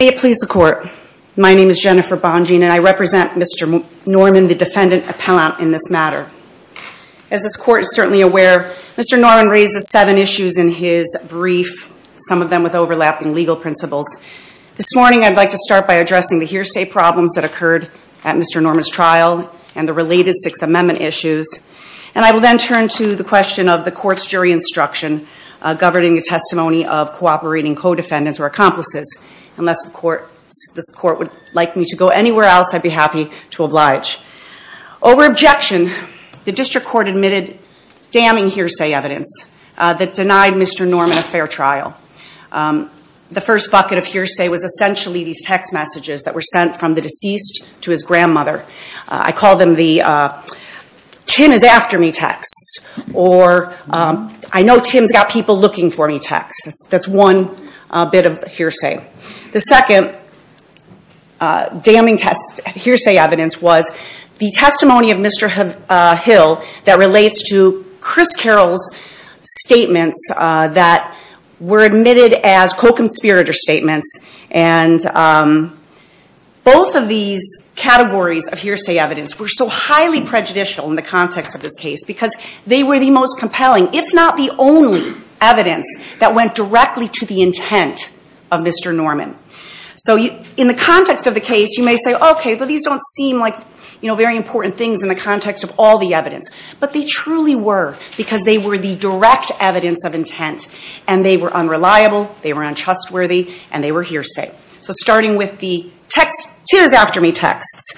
May it please the Court, my name is Jennifer Bonjean and I represent Mr. Norman, the defendant appellant in this matter. As this Court is certainly aware, Mr. Norman raises seven issues in his brief, some of them with overlapping legal principles. This morning I'd like to start by addressing the hearsay problems that occurred at Mr. Norman's trial and the related Sixth Amendment issues. And I will then turn to the question of the Court's jury instruction governing the testimony of cooperating co-defendants or accomplices. Unless the Court, this Court would like me to go anywhere else, I'd be happy to oblige. Over objection, the District Court admitted damning hearsay evidence that denied Mr. Norman a fair trial. The first bucket of hearsay was essentially these text messages that were sent from the deceased to his grandmother. I call them the Tim is after me texts or I know Tim's got people looking for me texts. That's one bit of hearsay. The second damning hearsay evidence was the testimony of Mr. Hill that relates to Chris Carroll's statements that were admitted as categories of hearsay evidence were so highly prejudicial in the context of this case because they were the most compelling, if not the only, evidence that went directly to the intent of Mr. Norman. So in the context of the case, you may say, okay, these don't seem like very important things in the context of all the evidence. But they truly were because they were the direct evidence of intent and they were unreliable, they were untrustworthy, and they were hearsay. So starting with the text Tim is after me texts,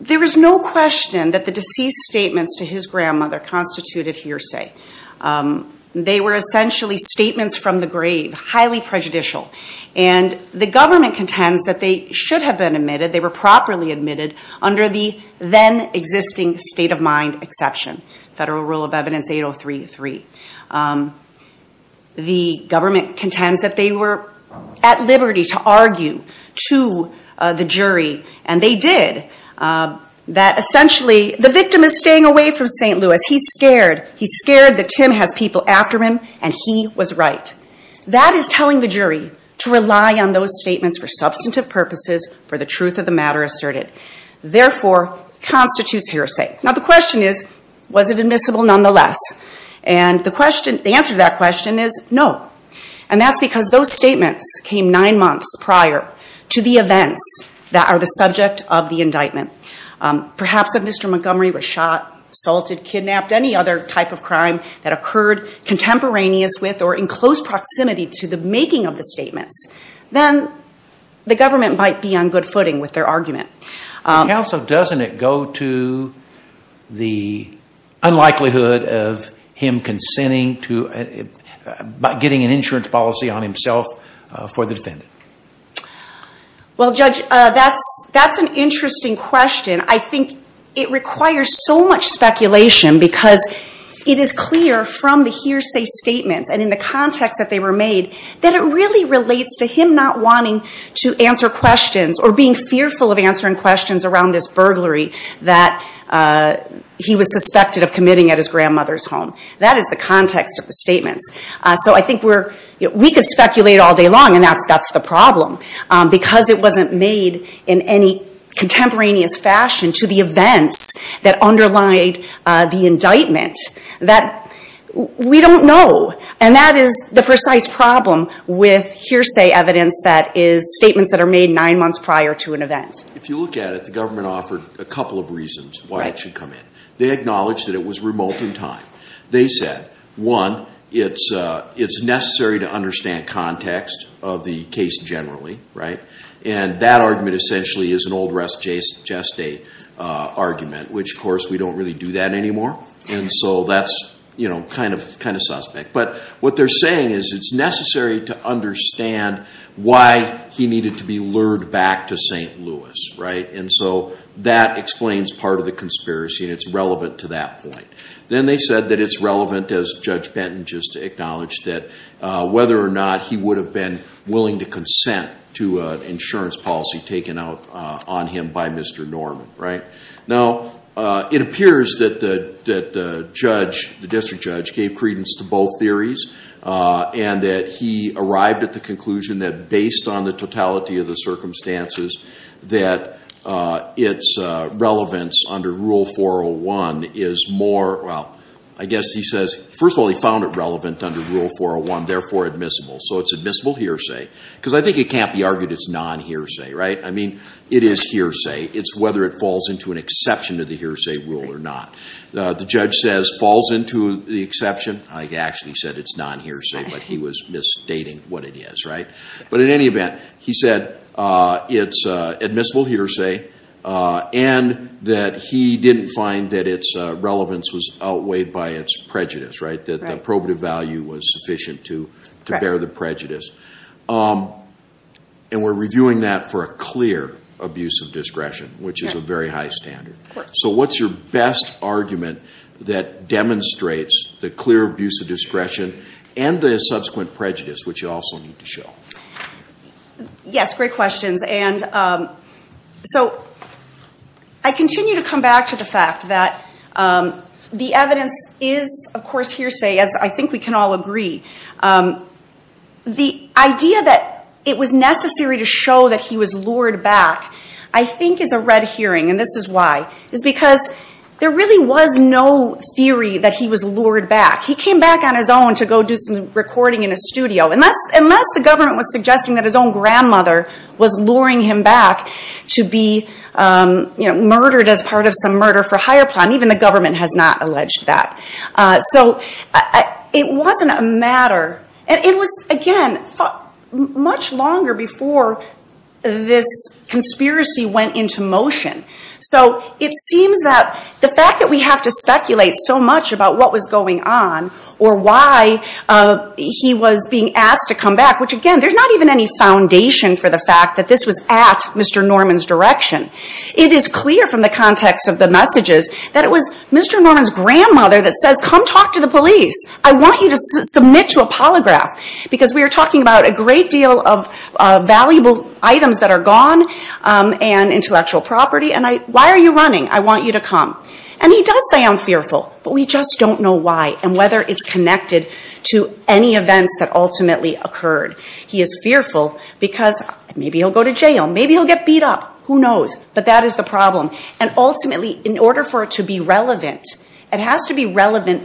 there is no question that the deceased's statements to his grandmother constituted hearsay. They were essentially statements from the grave, highly prejudicial. And the government contends that they should have been admitted, they were properly admitted under the then existing state of mind exception, Federal Rule of Evidence 8033. The government contends that they were at liberty to argue to the jury, and they did. That essentially, the victim is staying away from St. Louis, he's scared, he's scared that Tim has people after him, and he was right. That is telling the jury to rely on those statements for substantive purposes for the truth of the matter asserted. Therefore, constitutes hearsay. Now the question is, was it admissible nonetheless? And the question, the answer to that question is no. And that's because those statements came nine months prior to the events that are the subject of the indictment. Perhaps if Mr. Montgomery was shot, assaulted, kidnapped, any other type of crime that occurred contemporaneous with or in close proximity to the making of the statements, then the government might be on good footing with their argument. Counsel, doesn't it go to the unlikelihood of him consenting to, getting an insurance policy on himself for the defendant? Well Judge, that's an interesting question. I think it requires so much speculation because it is clear from the hearsay statements and in the context that they were made, that it really relates to him not wanting to answer questions or being fearful of answering questions around this burglary that he was suspected of committing at his grandmother's home. That is the context of the statements. So I think we're, we could speculate all day long and that's the problem because it wasn't made in any contemporaneous fashion to the events that underlie the indictment that we don't know. And that is the precise problem with hearsay evidence that is statements that are made nine months prior to an event. If you look at it, the government offered a couple of reasons why it should come in. They acknowledged that it was remote in time. They said, one, it's necessary to understand context of the case generally, right? And that argument essentially is an old rest just a argument, which of course we don't really do that anymore. And so that's you know, kind of suspect. But what they're saying is it's necessary to understand why he needed to be lured back to St. Louis, right? And so that explains part of the conspiracy and it's relevant to that point. Then they said that it's relevant as Judge Benton just acknowledged that whether or not he would have been willing to consent to an insurance policy taken out on him by Mr. Norman, right? Now it appears that the judge, the district judge gave credence to both theories and that he arrived at the conclusion that based on the totality of the circumstances that it's relevance under Rule 401 is more, well I guess he says, first of all he found it relevant under Rule 401, therefore admissible. So it's admissible hearsay. Because I think it can't be argued it's non-hearsay, right? I mean it is hearsay. It's whether it falls into an exception to the hearsay rule or not. The judge says falls into the exception. I actually said it's non-hearsay, but he was misstating what it is, right? But in any event, he said it's admissible hearsay and that he didn't find that it's relevance was outweighed by it's prejudice, right? That the probative value was sufficient to bear the prejudice. And we're reviewing that for a clear abuse of discretion, which is a very high standard. So what's your best argument that demonstrates the clear abuse of discretion and the subsequent prejudice, which you also need to show? Yes, great questions. And so I continue to come back to the fact that the evidence is of course hearsay, as I think we can all agree. The idea that it was necessary to show that he was lured back, I think is a red herring, and this is why. It's because there really was no theory that he was lured back. He came back on his own to go do some recording in a studio, unless the government was suggesting that his own grandmother was luring him back to be murdered as part of some murder for hire plan. Even the government has not alleged that. So it wasn't a matter, and it was again, much longer before this conspiracy went into motion. So it seems that the fact that we have to speculate so much about what was going on or why he was being asked to come back, which again, there's not even any foundation for the fact that this was at Mr. Norman's direction. It is clear from the context of the messages that it was Mr. Norman's grandmother that says, come talk to the police. I want you to submit to a polygraph. Because we are talking about a great deal of valuable items that are gone and intellectual property, and why are you running? I want you to come. And he does say I'm fearful, but we just don't know why and whether it's connected to any events that ultimately occurred. He is fearful because maybe he'll go to jail, maybe he'll get beat up, who knows? But that is the problem. And ultimately, in order for it to be relevant, it has to be relevant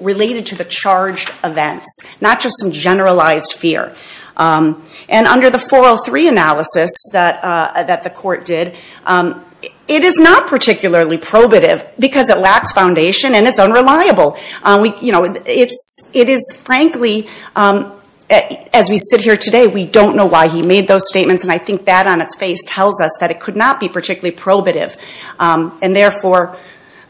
related to the charged events, not just some generalized fear. And under the 403 analysis that the court did, it is not particularly probative because it lacks foundation and it's unreliable. It is frankly, as we sit here today, we don't know why he made those statements and I think that on its face tells us that it could not be particularly probative. And therefore,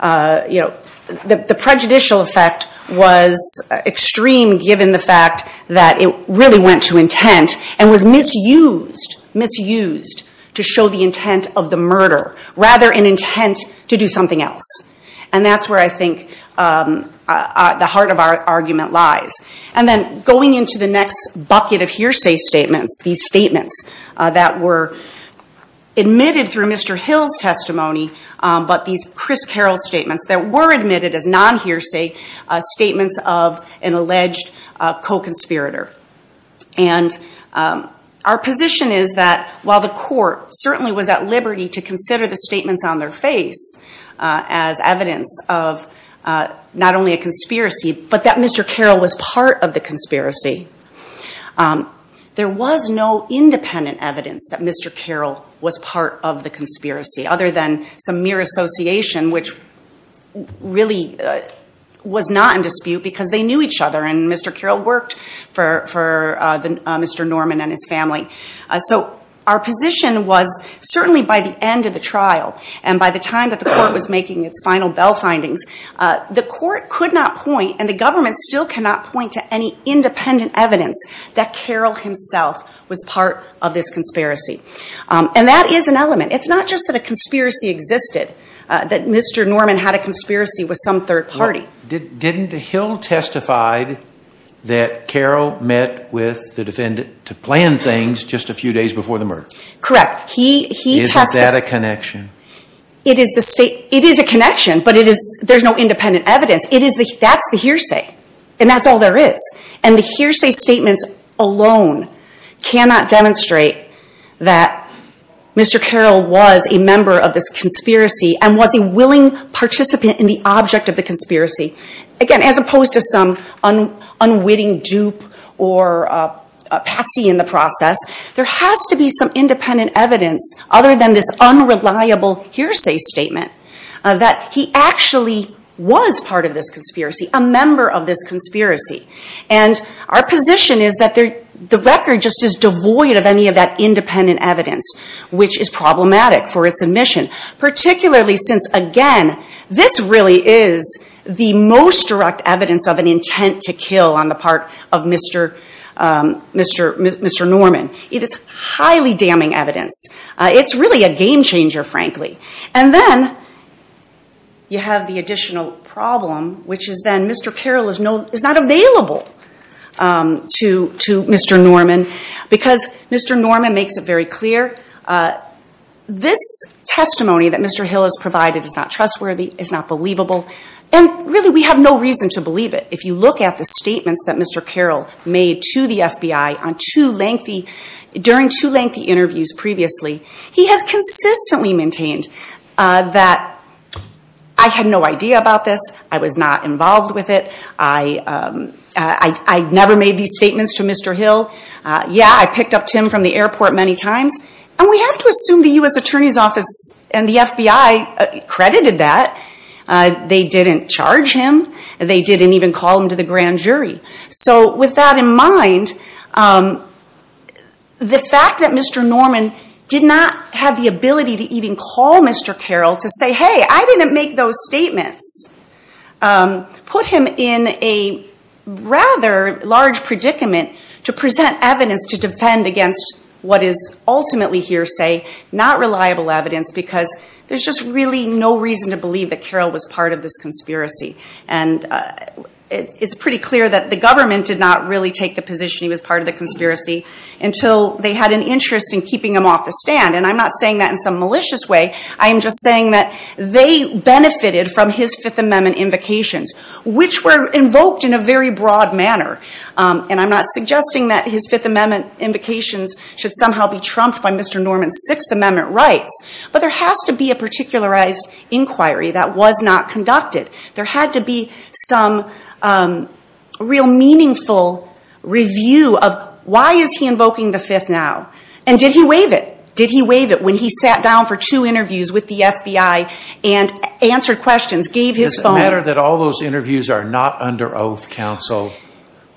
the prejudicial effect was extreme given the fact that it really went to intent and was misused, misused to show the intent of the murder rather an intent to do something else. And that's where I think the heart of our argument lies. And then going into the next bucket of hearsay statements, these statements that were admitted through Mr. Hill's testimony, but these Chris Carroll statements that were admitted as non-hearsay statements of an alleged co-conspirator. And our position is that while the court certainly was at liberty to consider the statements on their face as evidence of not only a conspiracy, but that Mr. Carroll was part of the conspiracy. There was no independent evidence that Mr. Carroll was part of the conspiracy, other than some mere association which really was not in dispute because they knew each other and Mr. Carroll worked for Mr. Norman and his family. So our position was certainly by the end of the trial and by the time that the court was making its final bell findings, the court could not point and the government still cannot point to any independent evidence that Carroll himself was part of this conspiracy. And that is an element. It's not just that a conspiracy existed, that Mr. Norman had a conspiracy with some third party. Didn't Hill testify that Carroll met with the defendant to plan things just a few days before the murder? Correct. He testified... Is that a connection? It is a connection, but there's no independent evidence. That's the hearsay and that's all there is. And the hearsay statements alone cannot demonstrate that Mr. Carroll was a participant in the object of the conspiracy. Again, as opposed to some unwitting dupe or a patsy in the process, there has to be some independent evidence other than this unreliable hearsay statement that he actually was part of this conspiracy, a member of this conspiracy. And our position is that the record just is devoid of any of that independent evidence which is problematic for its admission, particularly since, again, this really is the most direct evidence of an intent to kill on the part of Mr. Norman. It is highly damning evidence. It's really a game changer, frankly. And then you have the additional problem, which is then Mr. Carroll is not available to Mr. Norman because Mr. Norman makes it very clear this testimony that Mr. Hill has provided is not trustworthy, is not believable, and really we have no reason to believe it. If you look at the statements that Mr. Carroll made to the FBI during two lengthy interviews previously, he has consistently maintained that I had no idea about this, I was not involved with it, I never made these statements to Mr. Hill. Yeah, I picked up Tim from the airport many times. And we have to assume the U.S. Attorney's Office and the FBI credited that. They didn't charge him. They didn't even call him to the grand jury. So with that in mind, the fact that Mr. Norman did not have the ability to even call Mr. Carroll to say, hey, I didn't make those statements, put him in a rather large predicament to present evidence to defend against what is ultimately hearsay, not reliable evidence, because there's just really no reason to believe that Carroll was part of this conspiracy. And it's pretty clear that the government did not really take the position he was part of the conspiracy until they had an interest in keeping him off the stand. And I'm not saying that they benefited from his Fifth Amendment invocations, which were invoked in a very broad manner. And I'm not suggesting that his Fifth Amendment invocations should somehow be trumped by Mr. Norman's Sixth Amendment rights. But there has to be a particularized inquiry that was not conducted. There had to be some real meaningful review of why is he invoking the Fifth now? And did he waive it? Did he sit down for two interviews with the FBI and answer questions? Gave his phone? Does it matter that all those interviews are not under oath, counsel?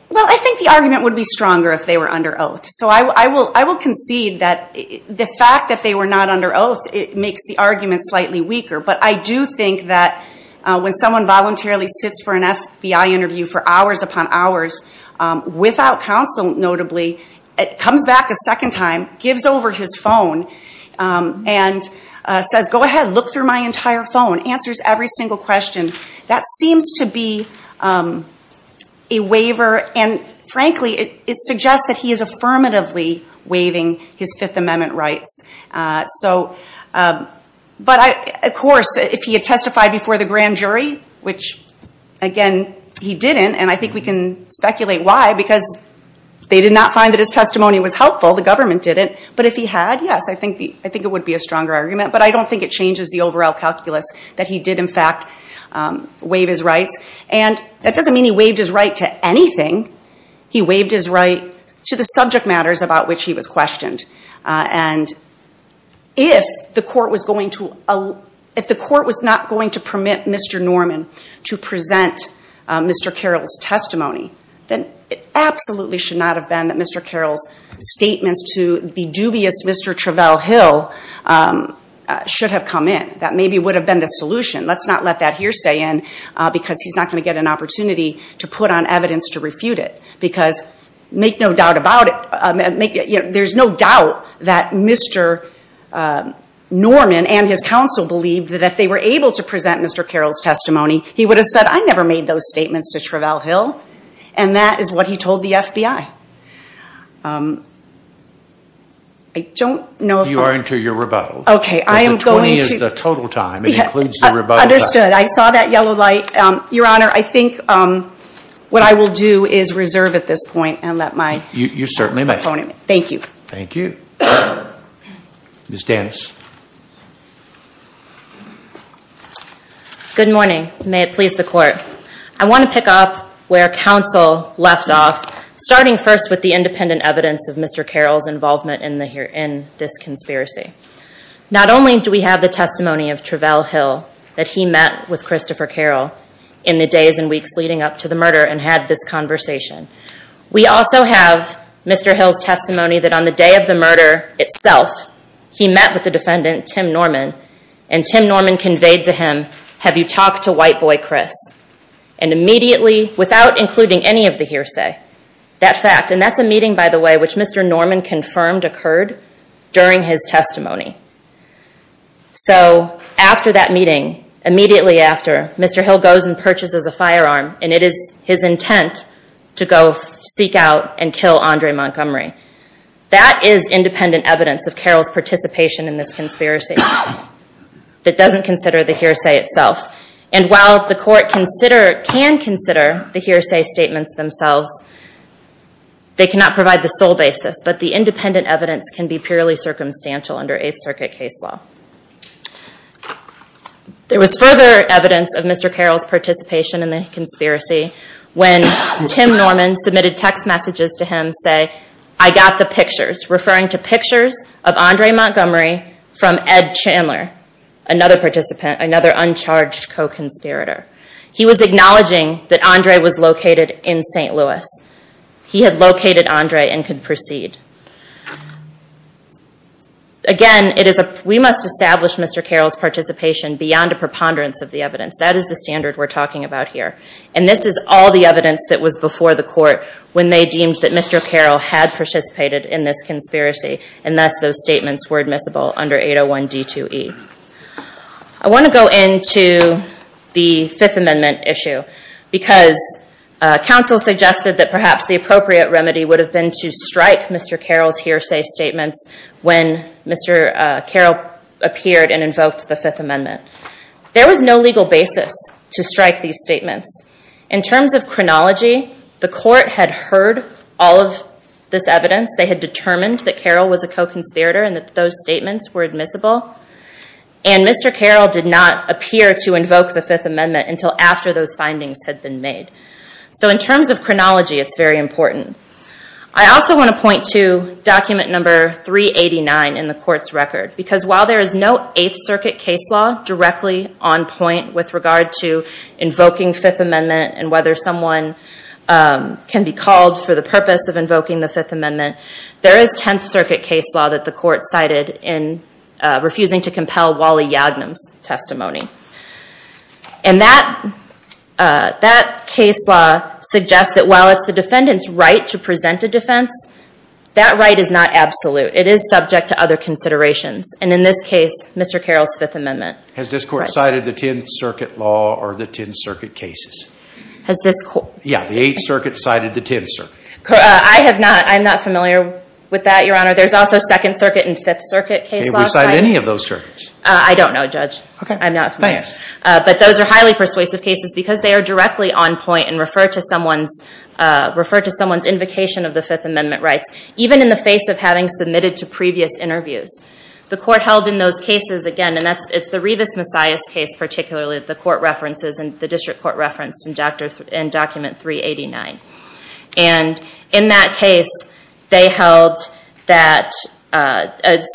Well, I think the argument would be stronger if they were under oath. So I will concede that the fact that they were not under oath, it makes the argument slightly weaker. But I do think that when someone voluntarily sits for an FBI interview for hours upon hours, without counsel notably, comes back a second time, gives over his phone, and says, go ahead, look through my entire phone, answers every single question, that seems to be a waiver. And frankly, it suggests that he is affirmatively waiving his Fifth Amendment rights. But of course, if he had testified before the grand jury, which again, he didn't, and I think we can speculate why, because they did not find that his testimony was helpful. The government didn't. But if he had, yes, I think it would be a stronger argument. But I don't think it changes the overall calculus that he did in fact waive his rights. And that doesn't mean he waived his right to anything. He waived his right to the subject matters about which he was questioned. And if the court was not going to permit Mr. Norman to present his testimony, then it absolutely should not have been that Mr. Carroll's statements to the dubious Mr. Travell Hill should have come in. That maybe would have been the solution. Let's not let that hearsay in, because he's not going to get an opportunity to put on evidence to refute it. Because make no doubt about it, there's no doubt that Mr. Norman and his counsel believed that if they were able to present Mr. Carroll's testimony, he would have said, I never made those statements to Travell Hill. And that is what he told the FBI. I don't know if I'm... You are into your rebuttal. Okay, I am going to... Because the 20 is the total time. It includes the rebuttal time. Understood. I saw that yellow light. Your Honor, I think what I will do is reserve at this point and let my opponent... You certainly may. Thank you. Thank you. Ms. Danis. Good morning. May it please the Court. I want to pick up where counsel left off, starting first with the independent evidence of Mr. Carroll's involvement in this conspiracy. Not only do we have the testimony of Travell Hill that he met with Christopher Carroll in the days and weeks leading up to the murder and had this conversation. We also have Mr. Hill's testimony that on the day of the murder itself, he met with the defendant, Tim Norman, and Tim Norman conveyed to him, have you talked to white boy Chris? And immediately, without including any of the hearsay, that fact. And that's a meeting, by the way, which Mr. Norman confirmed occurred during his testimony. So after that meeting, immediately after, Mr. Hill goes and purchases a firearm and it is his intent to go seek out and kill Andre Montgomery. That is independent evidence of Carroll's participation in this conspiracy that doesn't consider the hearsay itself. And while the Court can consider the hearsay statements themselves, they cannot provide the sole basis, but the independent evidence can be purely circumstantial under Eighth Circuit case law. There was further evidence of Mr. Carroll's participation in the conspiracy when Tim Norman submitted text messages to him saying, I got the pictures, referring to pictures of Andre Montgomery from Ed Chandler, another participant, another uncharged co-conspirator. He was acknowledging that Andre was located in St. Louis. He had located Andre and could proceed. Again, we must establish Mr. Carroll's participation beyond a preponderance of the evidence. That is the standard we're talking about here. And this is all the evidence that was before the Court when they deemed that Mr. Carroll had participated in this conspiracy and thus those statements were admissible under 801 D2E. I want to go into the Fifth Amendment issue because counsel suggested that perhaps the appropriate remedy would have been to strike Mr. Carroll's hearsay statements when Mr. Carroll appeared and invoked the Fifth Amendment. There was no legal basis to strike these statements. In terms of chronology, the Court had heard all of this evidence. They had determined that Carroll was a co-conspirator and that those statements were admissible. And Mr. Carroll did not appear to invoke the Fifth Amendment until after those findings had been made. So in terms of chronology, it's very important. I also want to point to document number 389 in the Court's record because while there is no Eighth Circuit case law directly on point with regard to invoking the Fifth Amendment and whether someone can be called for the purpose of invoking the Fifth Amendment, there is Tenth Circuit case law that the Court cited in refusing to compel Wally Yagnum's testimony. And that case law suggests that while it's the defendant's right to present a defense, that right is not absolute. It is subject to other considerations. And in this case, Mr. Carroll's Fifth Amendment. Has this Court cited the Tenth Circuit law or the Tenth Circuit cases? Has this Court... Yeah, the Eighth Circuit cited the Tenth Circuit. I have not. I'm not familiar with that, Your Honor. There's also Second Circuit and Fifth Circuit case laws. Have we cited any of those circuits? I don't know, Judge. Okay. I'm not familiar. But those are highly persuasive cases because they are directly on point and refer to someone's invocation of the Fifth Amendment rights, even in the face of having submitted to previous interviews. The Court held in those cases, again, and it's the Rivas-Messias case particularly that the Court references and the District Court referenced in document 389. And in that case, they held that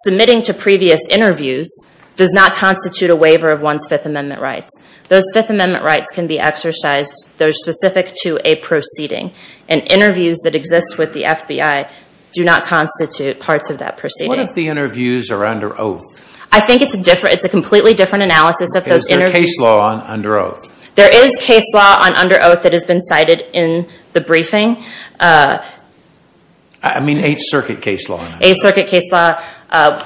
submitting to previous interviews does not constitute a waiver of one's Fifth Amendment rights. Those Fifth Amendment rights can be exercised. They're specific to a proceeding. And interviews that exist with the FBI do not constitute parts of that proceeding. What if the interviews are under oath? I think it's a completely different analysis of those interviews. Is there a case law under oath? There is case law under oath that has been cited in the briefing. I mean Eighth Circuit case law. Eighth Circuit case law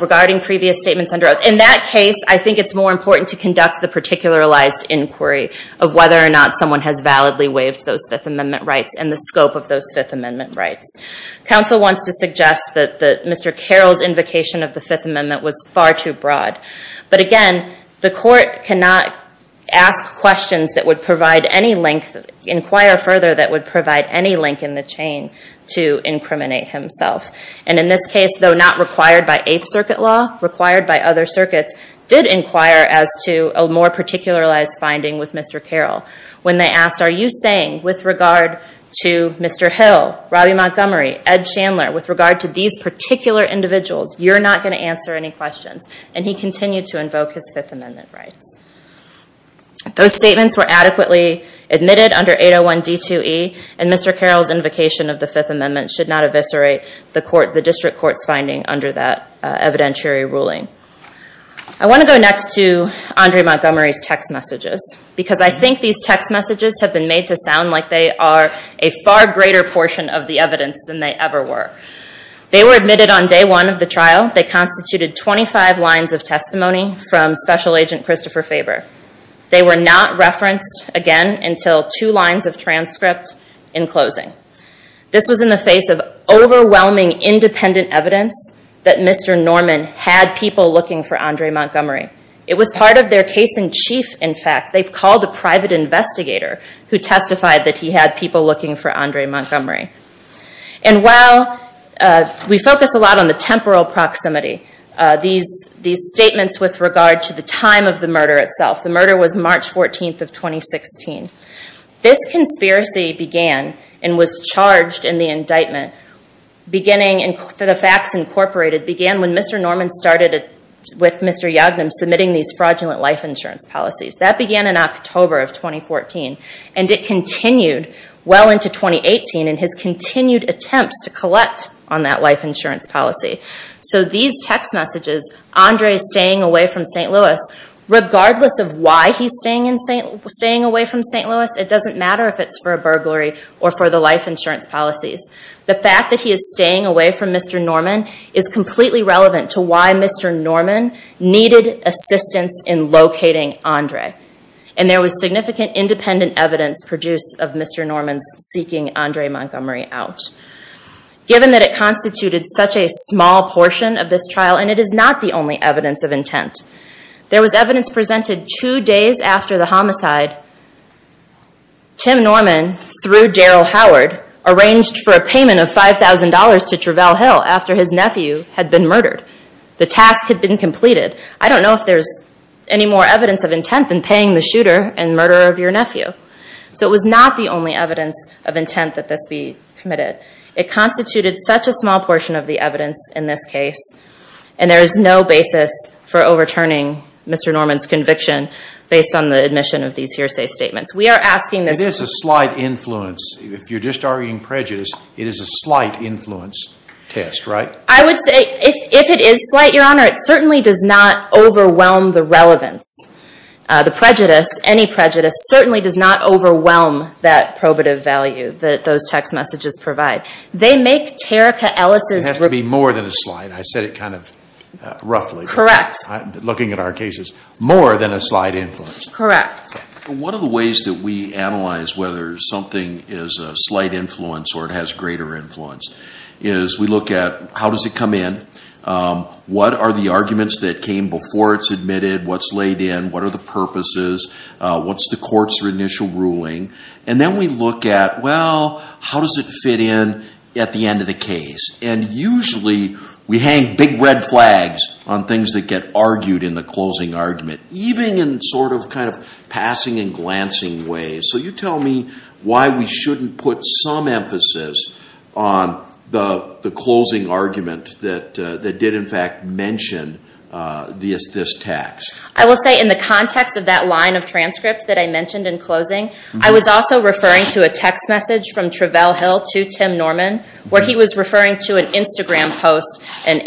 regarding previous statements under oath. In that case, I think it's more important to conduct the particularized inquiry of whether or not someone has validly waived those Fifth Amendment rights and the scope of those Fifth Amendment rights. Counsel wants to suggest that Mr. Carroll's invocation of the Fifth Amendment was far too broad. But again, the Court cannot ask questions that would provide any link, inquire further that would provide any link in the chain to incriminate himself. And in this case, though not required by Eighth Circuit law, required by other circuits, did inquire as to a more particularized finding with Mr. Carroll. When they asked, are you saying with regard to Mr. Hill, Robby Montgomery, Ed Chandler, with regard to these particular individuals, you're not going to answer any questions? And he continued to invoke his Fifth Amendment rights. Those statements were adequately admitted under 801 D2E, and Mr. Carroll's invocation of the Fifth Amendment should not eviscerate the District Court's finding under that evidentiary ruling. I want to go next to Andre Montgomery's text messages, because I think these text messages have been made to sound like they are a far greater portion of the evidence than they ever were. They were admitted on day one of the trial. They constituted 25 lines of testimony from Special Agent Christopher Faber. They were not referenced again until two lines of transcript in closing. This was in the face of overwhelming independent evidence that Mr. Norman had people looking for Andre Montgomery. It was part of their case-in-chief, in fact. They called a private investigator who testified that he had people looking for Andre Montgomery. And while we focus a lot on the temporal proximity, these statements with regard to the time of the murder itself. The murder was March 14th of 2016. This conspiracy began, and was charged in the indictment, beginning for the FACTS, Incorporated began when Mr. Norman started with Mr. Yagnum submitting these fraudulent life insurance policies. That began in October of 2014, and it continued well into 2018 in his continued attempts to collect on that life insurance policy. These text messages, Andre staying away from St. Louis, regardless of why he's staying away from St. Louis, it doesn't matter if it's for a burglary or for the life insurance policies. The fact that he is staying away from Mr. Norman is completely relevant to why Mr. Norman needed assistance in locating Andre. There was significant independent evidence produced of Mr. Norman's seeking Andre Montgomery out. Given that it constituted such a small portion of this trial, and it is not the only evidence of intent. There was evidence presented two days after the homicide. Tim Norman, through Daryl Howard, arranged for a payment of $5,000 to Travell Hill after his nephew had been murdered. The task had been completed. I don't know if there's any more evidence of intent than paying the shooter and murderer of your nephew. So it was not the only evidence of intent that this be committed. It constituted such a small portion of the evidence in this case, and there is no basis for overturning Mr. Norman's conviction based on the admission of these hearsay statements. We are asking this. It is a slight influence. If you're just arguing prejudice, it is a slight influence test, right? I would say if it is slight, Your Honor, it certainly does not overwhelm the relevance. The prejudice, any prejudice, certainly does not overwhelm that probative value that those text messages provide. They make Terica Ellis's- It has to be more than a slight. I said it kind of roughly. Correct. I'm looking at our cases. More than a slight influence. Correct. One of the ways that we analyze whether something is a slight influence or it has greater influence is we look at how does it come in, what are the arguments that came before it's admitted, what's laid in, what are the purposes, what's the court's initial ruling, and then we look at, well, how does it fit in at the end of the case, and usually we hang big red flags on things that get argued in the closing argument, even in sort of kind of passing and glancing ways. So you tell me why we shouldn't put some emphasis on the closing argument that did, in fact, mention this text. I will say in the context of that line of transcripts that I mentioned in closing, I was also referring to a text message from Travell Hill to Tim Norman where he was referring to an Instagram post, and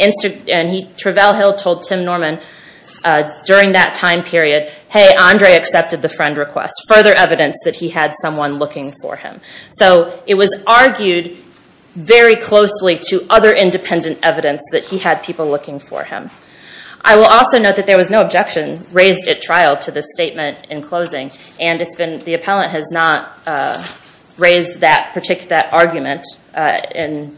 Travell Hill told Tim Norman during that time period, hey, Andre accepted the friend request, further evidence that he had someone looking for him. So it was argued very closely to other independent evidence that he had people looking for him. I will also note that there was no objection raised at trial to the statement in closing, and it's been, the appellant has not raised that argument and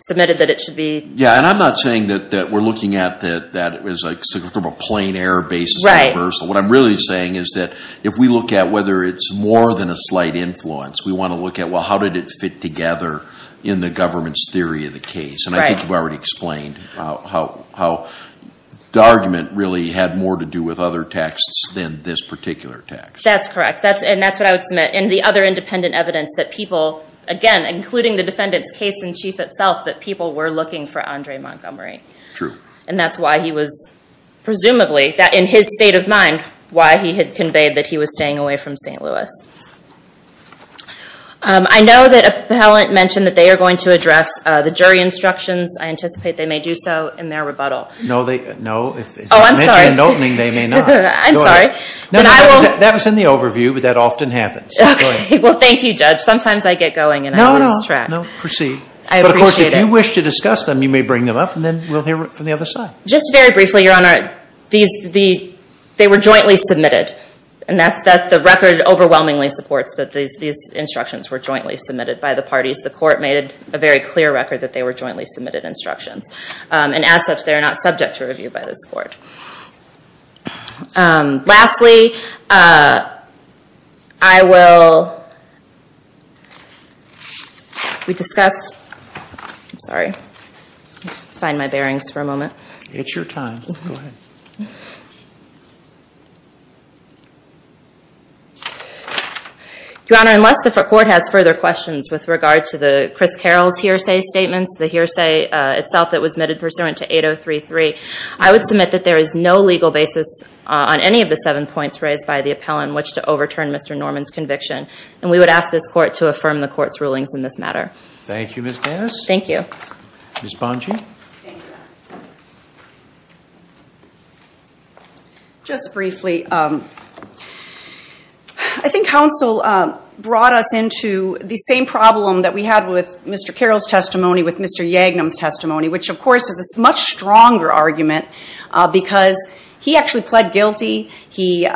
submitted that it should be. Yeah, and I'm not saying that we're looking at that as sort of a plain error basis reversal. What I'm really saying is that if we look at whether it's more than a slight influence, we want to look at, well, how did it fit together in the government's theory of the case? And I think you've already explained how the argument really had more to do with other texts than this particular text. That's correct. And that's what I would submit in the other independent evidence that people, again, including the defendant's case in chief itself, that people were looking for Andre Montgomery. And that's why he was presumably, in his state of mind, why he had conveyed that he was staying away from St. Louis. I know that appellant mentioned that they are going to address the jury instructions. I anticipate they may do so in their rebuttal. No, they, no. Oh, I'm sorry. If you mention an opening, they may not. I'm sorry. No, that was in the overview, but that often happens. Okay, well, thank you, Judge. Sometimes I get going and I lose track. No, no, no. Proceed. I appreciate it. But, of course, if you wish to discuss them, you may bring them up, and then we'll hear from the other side. Just very briefly, Your Honor, these, the, they were jointly submitted. And that's, that, the record overwhelmingly supports that these, these instructions were jointly submitted by the parties. The court made it a very clear record that they were jointly submitted instructions. And as such, they are not subject to review by this court. Lastly, I will, we discussed, I'm sorry, let me find my bearings for a moment. It's your time. Go ahead. Your Honor, unless the court has further questions with regard to the, Chris Carroll's hearsay statements, the hearsay itself that was submitted pursuant to 8033, I would submit that there is no legal basis on any of the seven points raised by the appellant in which to overturn Mr. Norman's conviction. And we would ask this court to affirm the court's rulings in this matter. Thank you, Ms. Dennis. Thank you. Ms. Bonge. Thank you, Your Honor. Just briefly, I think counsel brought us into the same problem that we had with Mr. Carroll's testimony with Mr. Yagnum's testimony, which of course is a much stronger argument because he actually pled guilty, he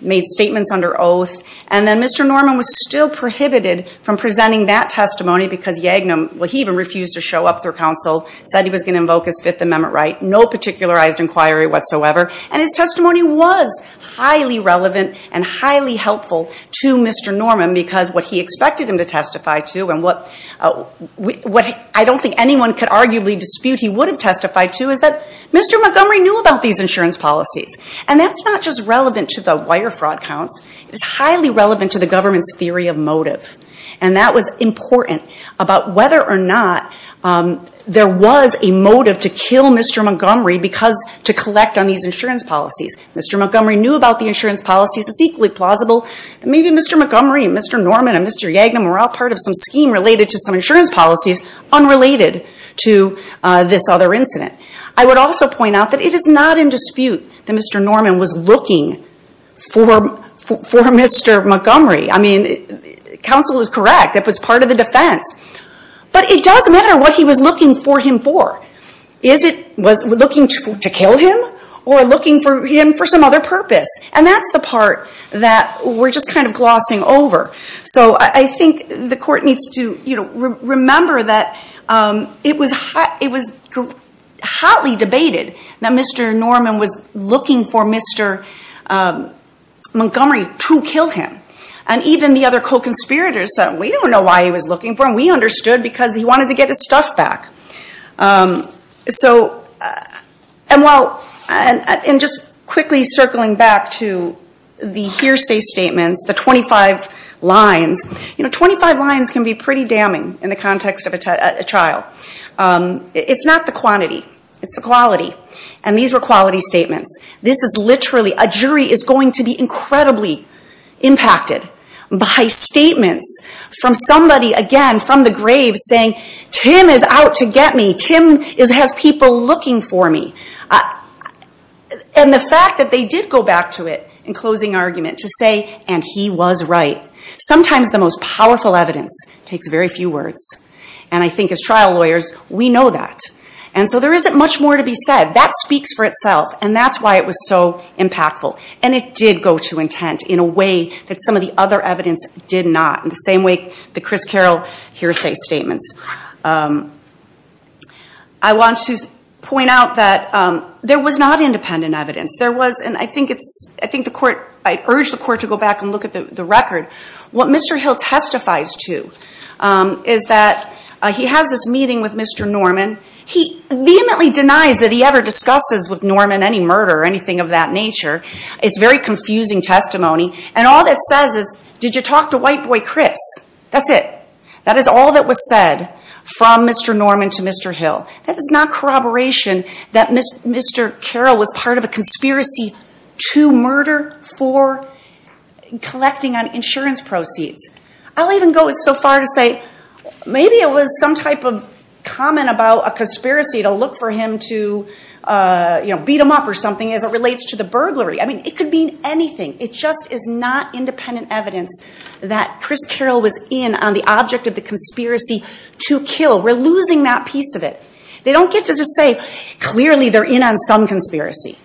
made statements under oath, and then Mr. Norman was still prohibited from presenting that testimony because Yagnum, well, he even refused to show up for counsel, said he was going to invoke his Fifth Amendment right, no particularized inquiry whatsoever. And his testimony was highly relevant and highly helpful to Mr. Norman because what he expected him to testify to and what I don't think anyone could arguably dispute he would have testified to is that Mr. Montgomery knew about these insurance policies. And that's not just relevant to the wire fraud counts, it's highly relevant to the government's theory of motive. And that was important about whether or not there was a motive to kill Mr. Montgomery because to collect on these insurance policies. Mr. Montgomery knew about the insurance policies, it's equally plausible that maybe Mr. Montgomery and Mr. Norman and Mr. Yagnum were all part of some scheme related to some insurance policies unrelated to this other incident. I would also point out that it is not in dispute that Mr. Norman was looking for Mr. Montgomery. I mean, counsel is correct, it was part of the defense. But it does matter what he was looking for him for. Is it looking to kill him or looking for him for some other purpose? And that's the part that we're just kind of glossing over. So I think the court needs to remember that it was hotly debated that Mr. Norman was looking for Mr. Montgomery to kill him. And even the other co-conspirators said, we don't know why he was looking for him. We understood because he wanted to get his stuff back. And just quickly circling back to the hearsay statements, the 25 lines, you know, 25 lines can be pretty damning in the context of a trial. It's not the quantity, it's the quality. And these were quality statements. This is literally, a jury is going to be incredibly impacted by statements from somebody, again, from the grave saying, Tim is out to get me, Tim has people looking for me. And the fact that they did go back to it in closing argument to say, and he was right. Sometimes the most powerful evidence takes very few words. And I think as trial lawyers, we know that. And so there isn't much more to be said. That speaks for itself. And that's why it was so impactful. And it did go to intent in a way that some of the other evidence did not. In the same way, the Chris Carroll hearsay statements. I want to point out that there was not independent evidence. There was, and I think the court, I urge the court to go back and look at the record. What Mr. Hill testifies to is that he has this meeting with Mr. Norman. He vehemently denies that he ever discusses with Norman any murder or anything of that nature. It's very confusing testimony. And all that says is, did you talk to white boy Chris? That's it. That is all that was said from Mr. Norman to Mr. Hill. That is not corroboration that Mr. Carroll was part of a conspiracy to murder for collecting on insurance proceeds. I'll even go so far to say, maybe it was some type of comment about a conspiracy to look for him to beat him up or something as it relates to the burglary. I mean, it could mean anything. It just is not independent evidence that Chris Carroll was in on the object of the conspiracy to kill. We're losing that piece of it. They don't get to just say, clearly they're in on some conspiracy.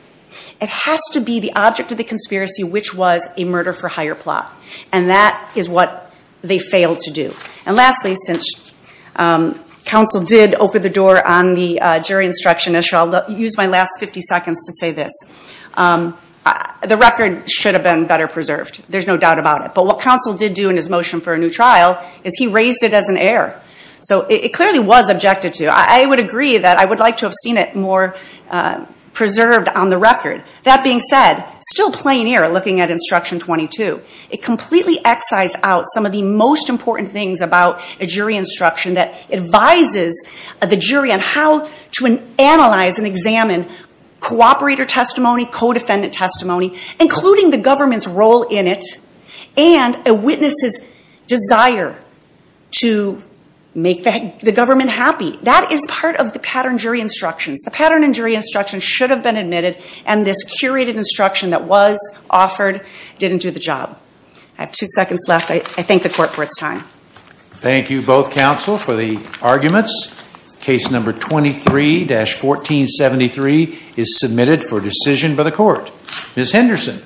It has to be the object of the conspiracy which was a murder for hire plot. And that is what they failed to do. And lastly, since counsel did open the door on the jury instruction issue, I'll use my last 50 seconds to say this. The record should have been better preserved. There's no doubt about it. But what counsel did do in his motion for a new trial is he raised it as an error. So it clearly was objected to. I would agree that I would like to have seen it more preserved on the record. That being said, still plain error looking at Instruction 22. It completely excised out some of the most important things about a jury instruction that advises the jury on how to analyze and examine cooperator testimony, co-defendant testimony, including the government's role in it, and a witness's desire to make the government happy. That is part of the pattern jury instructions. The pattern in jury instruction should have been admitted. And this curated instruction that was offered didn't do the job. I have two seconds left. I thank the court for its time. Thank you both counsel for the arguments. Case number 23-1473 is submitted for decision by the court. Ms. Henderson.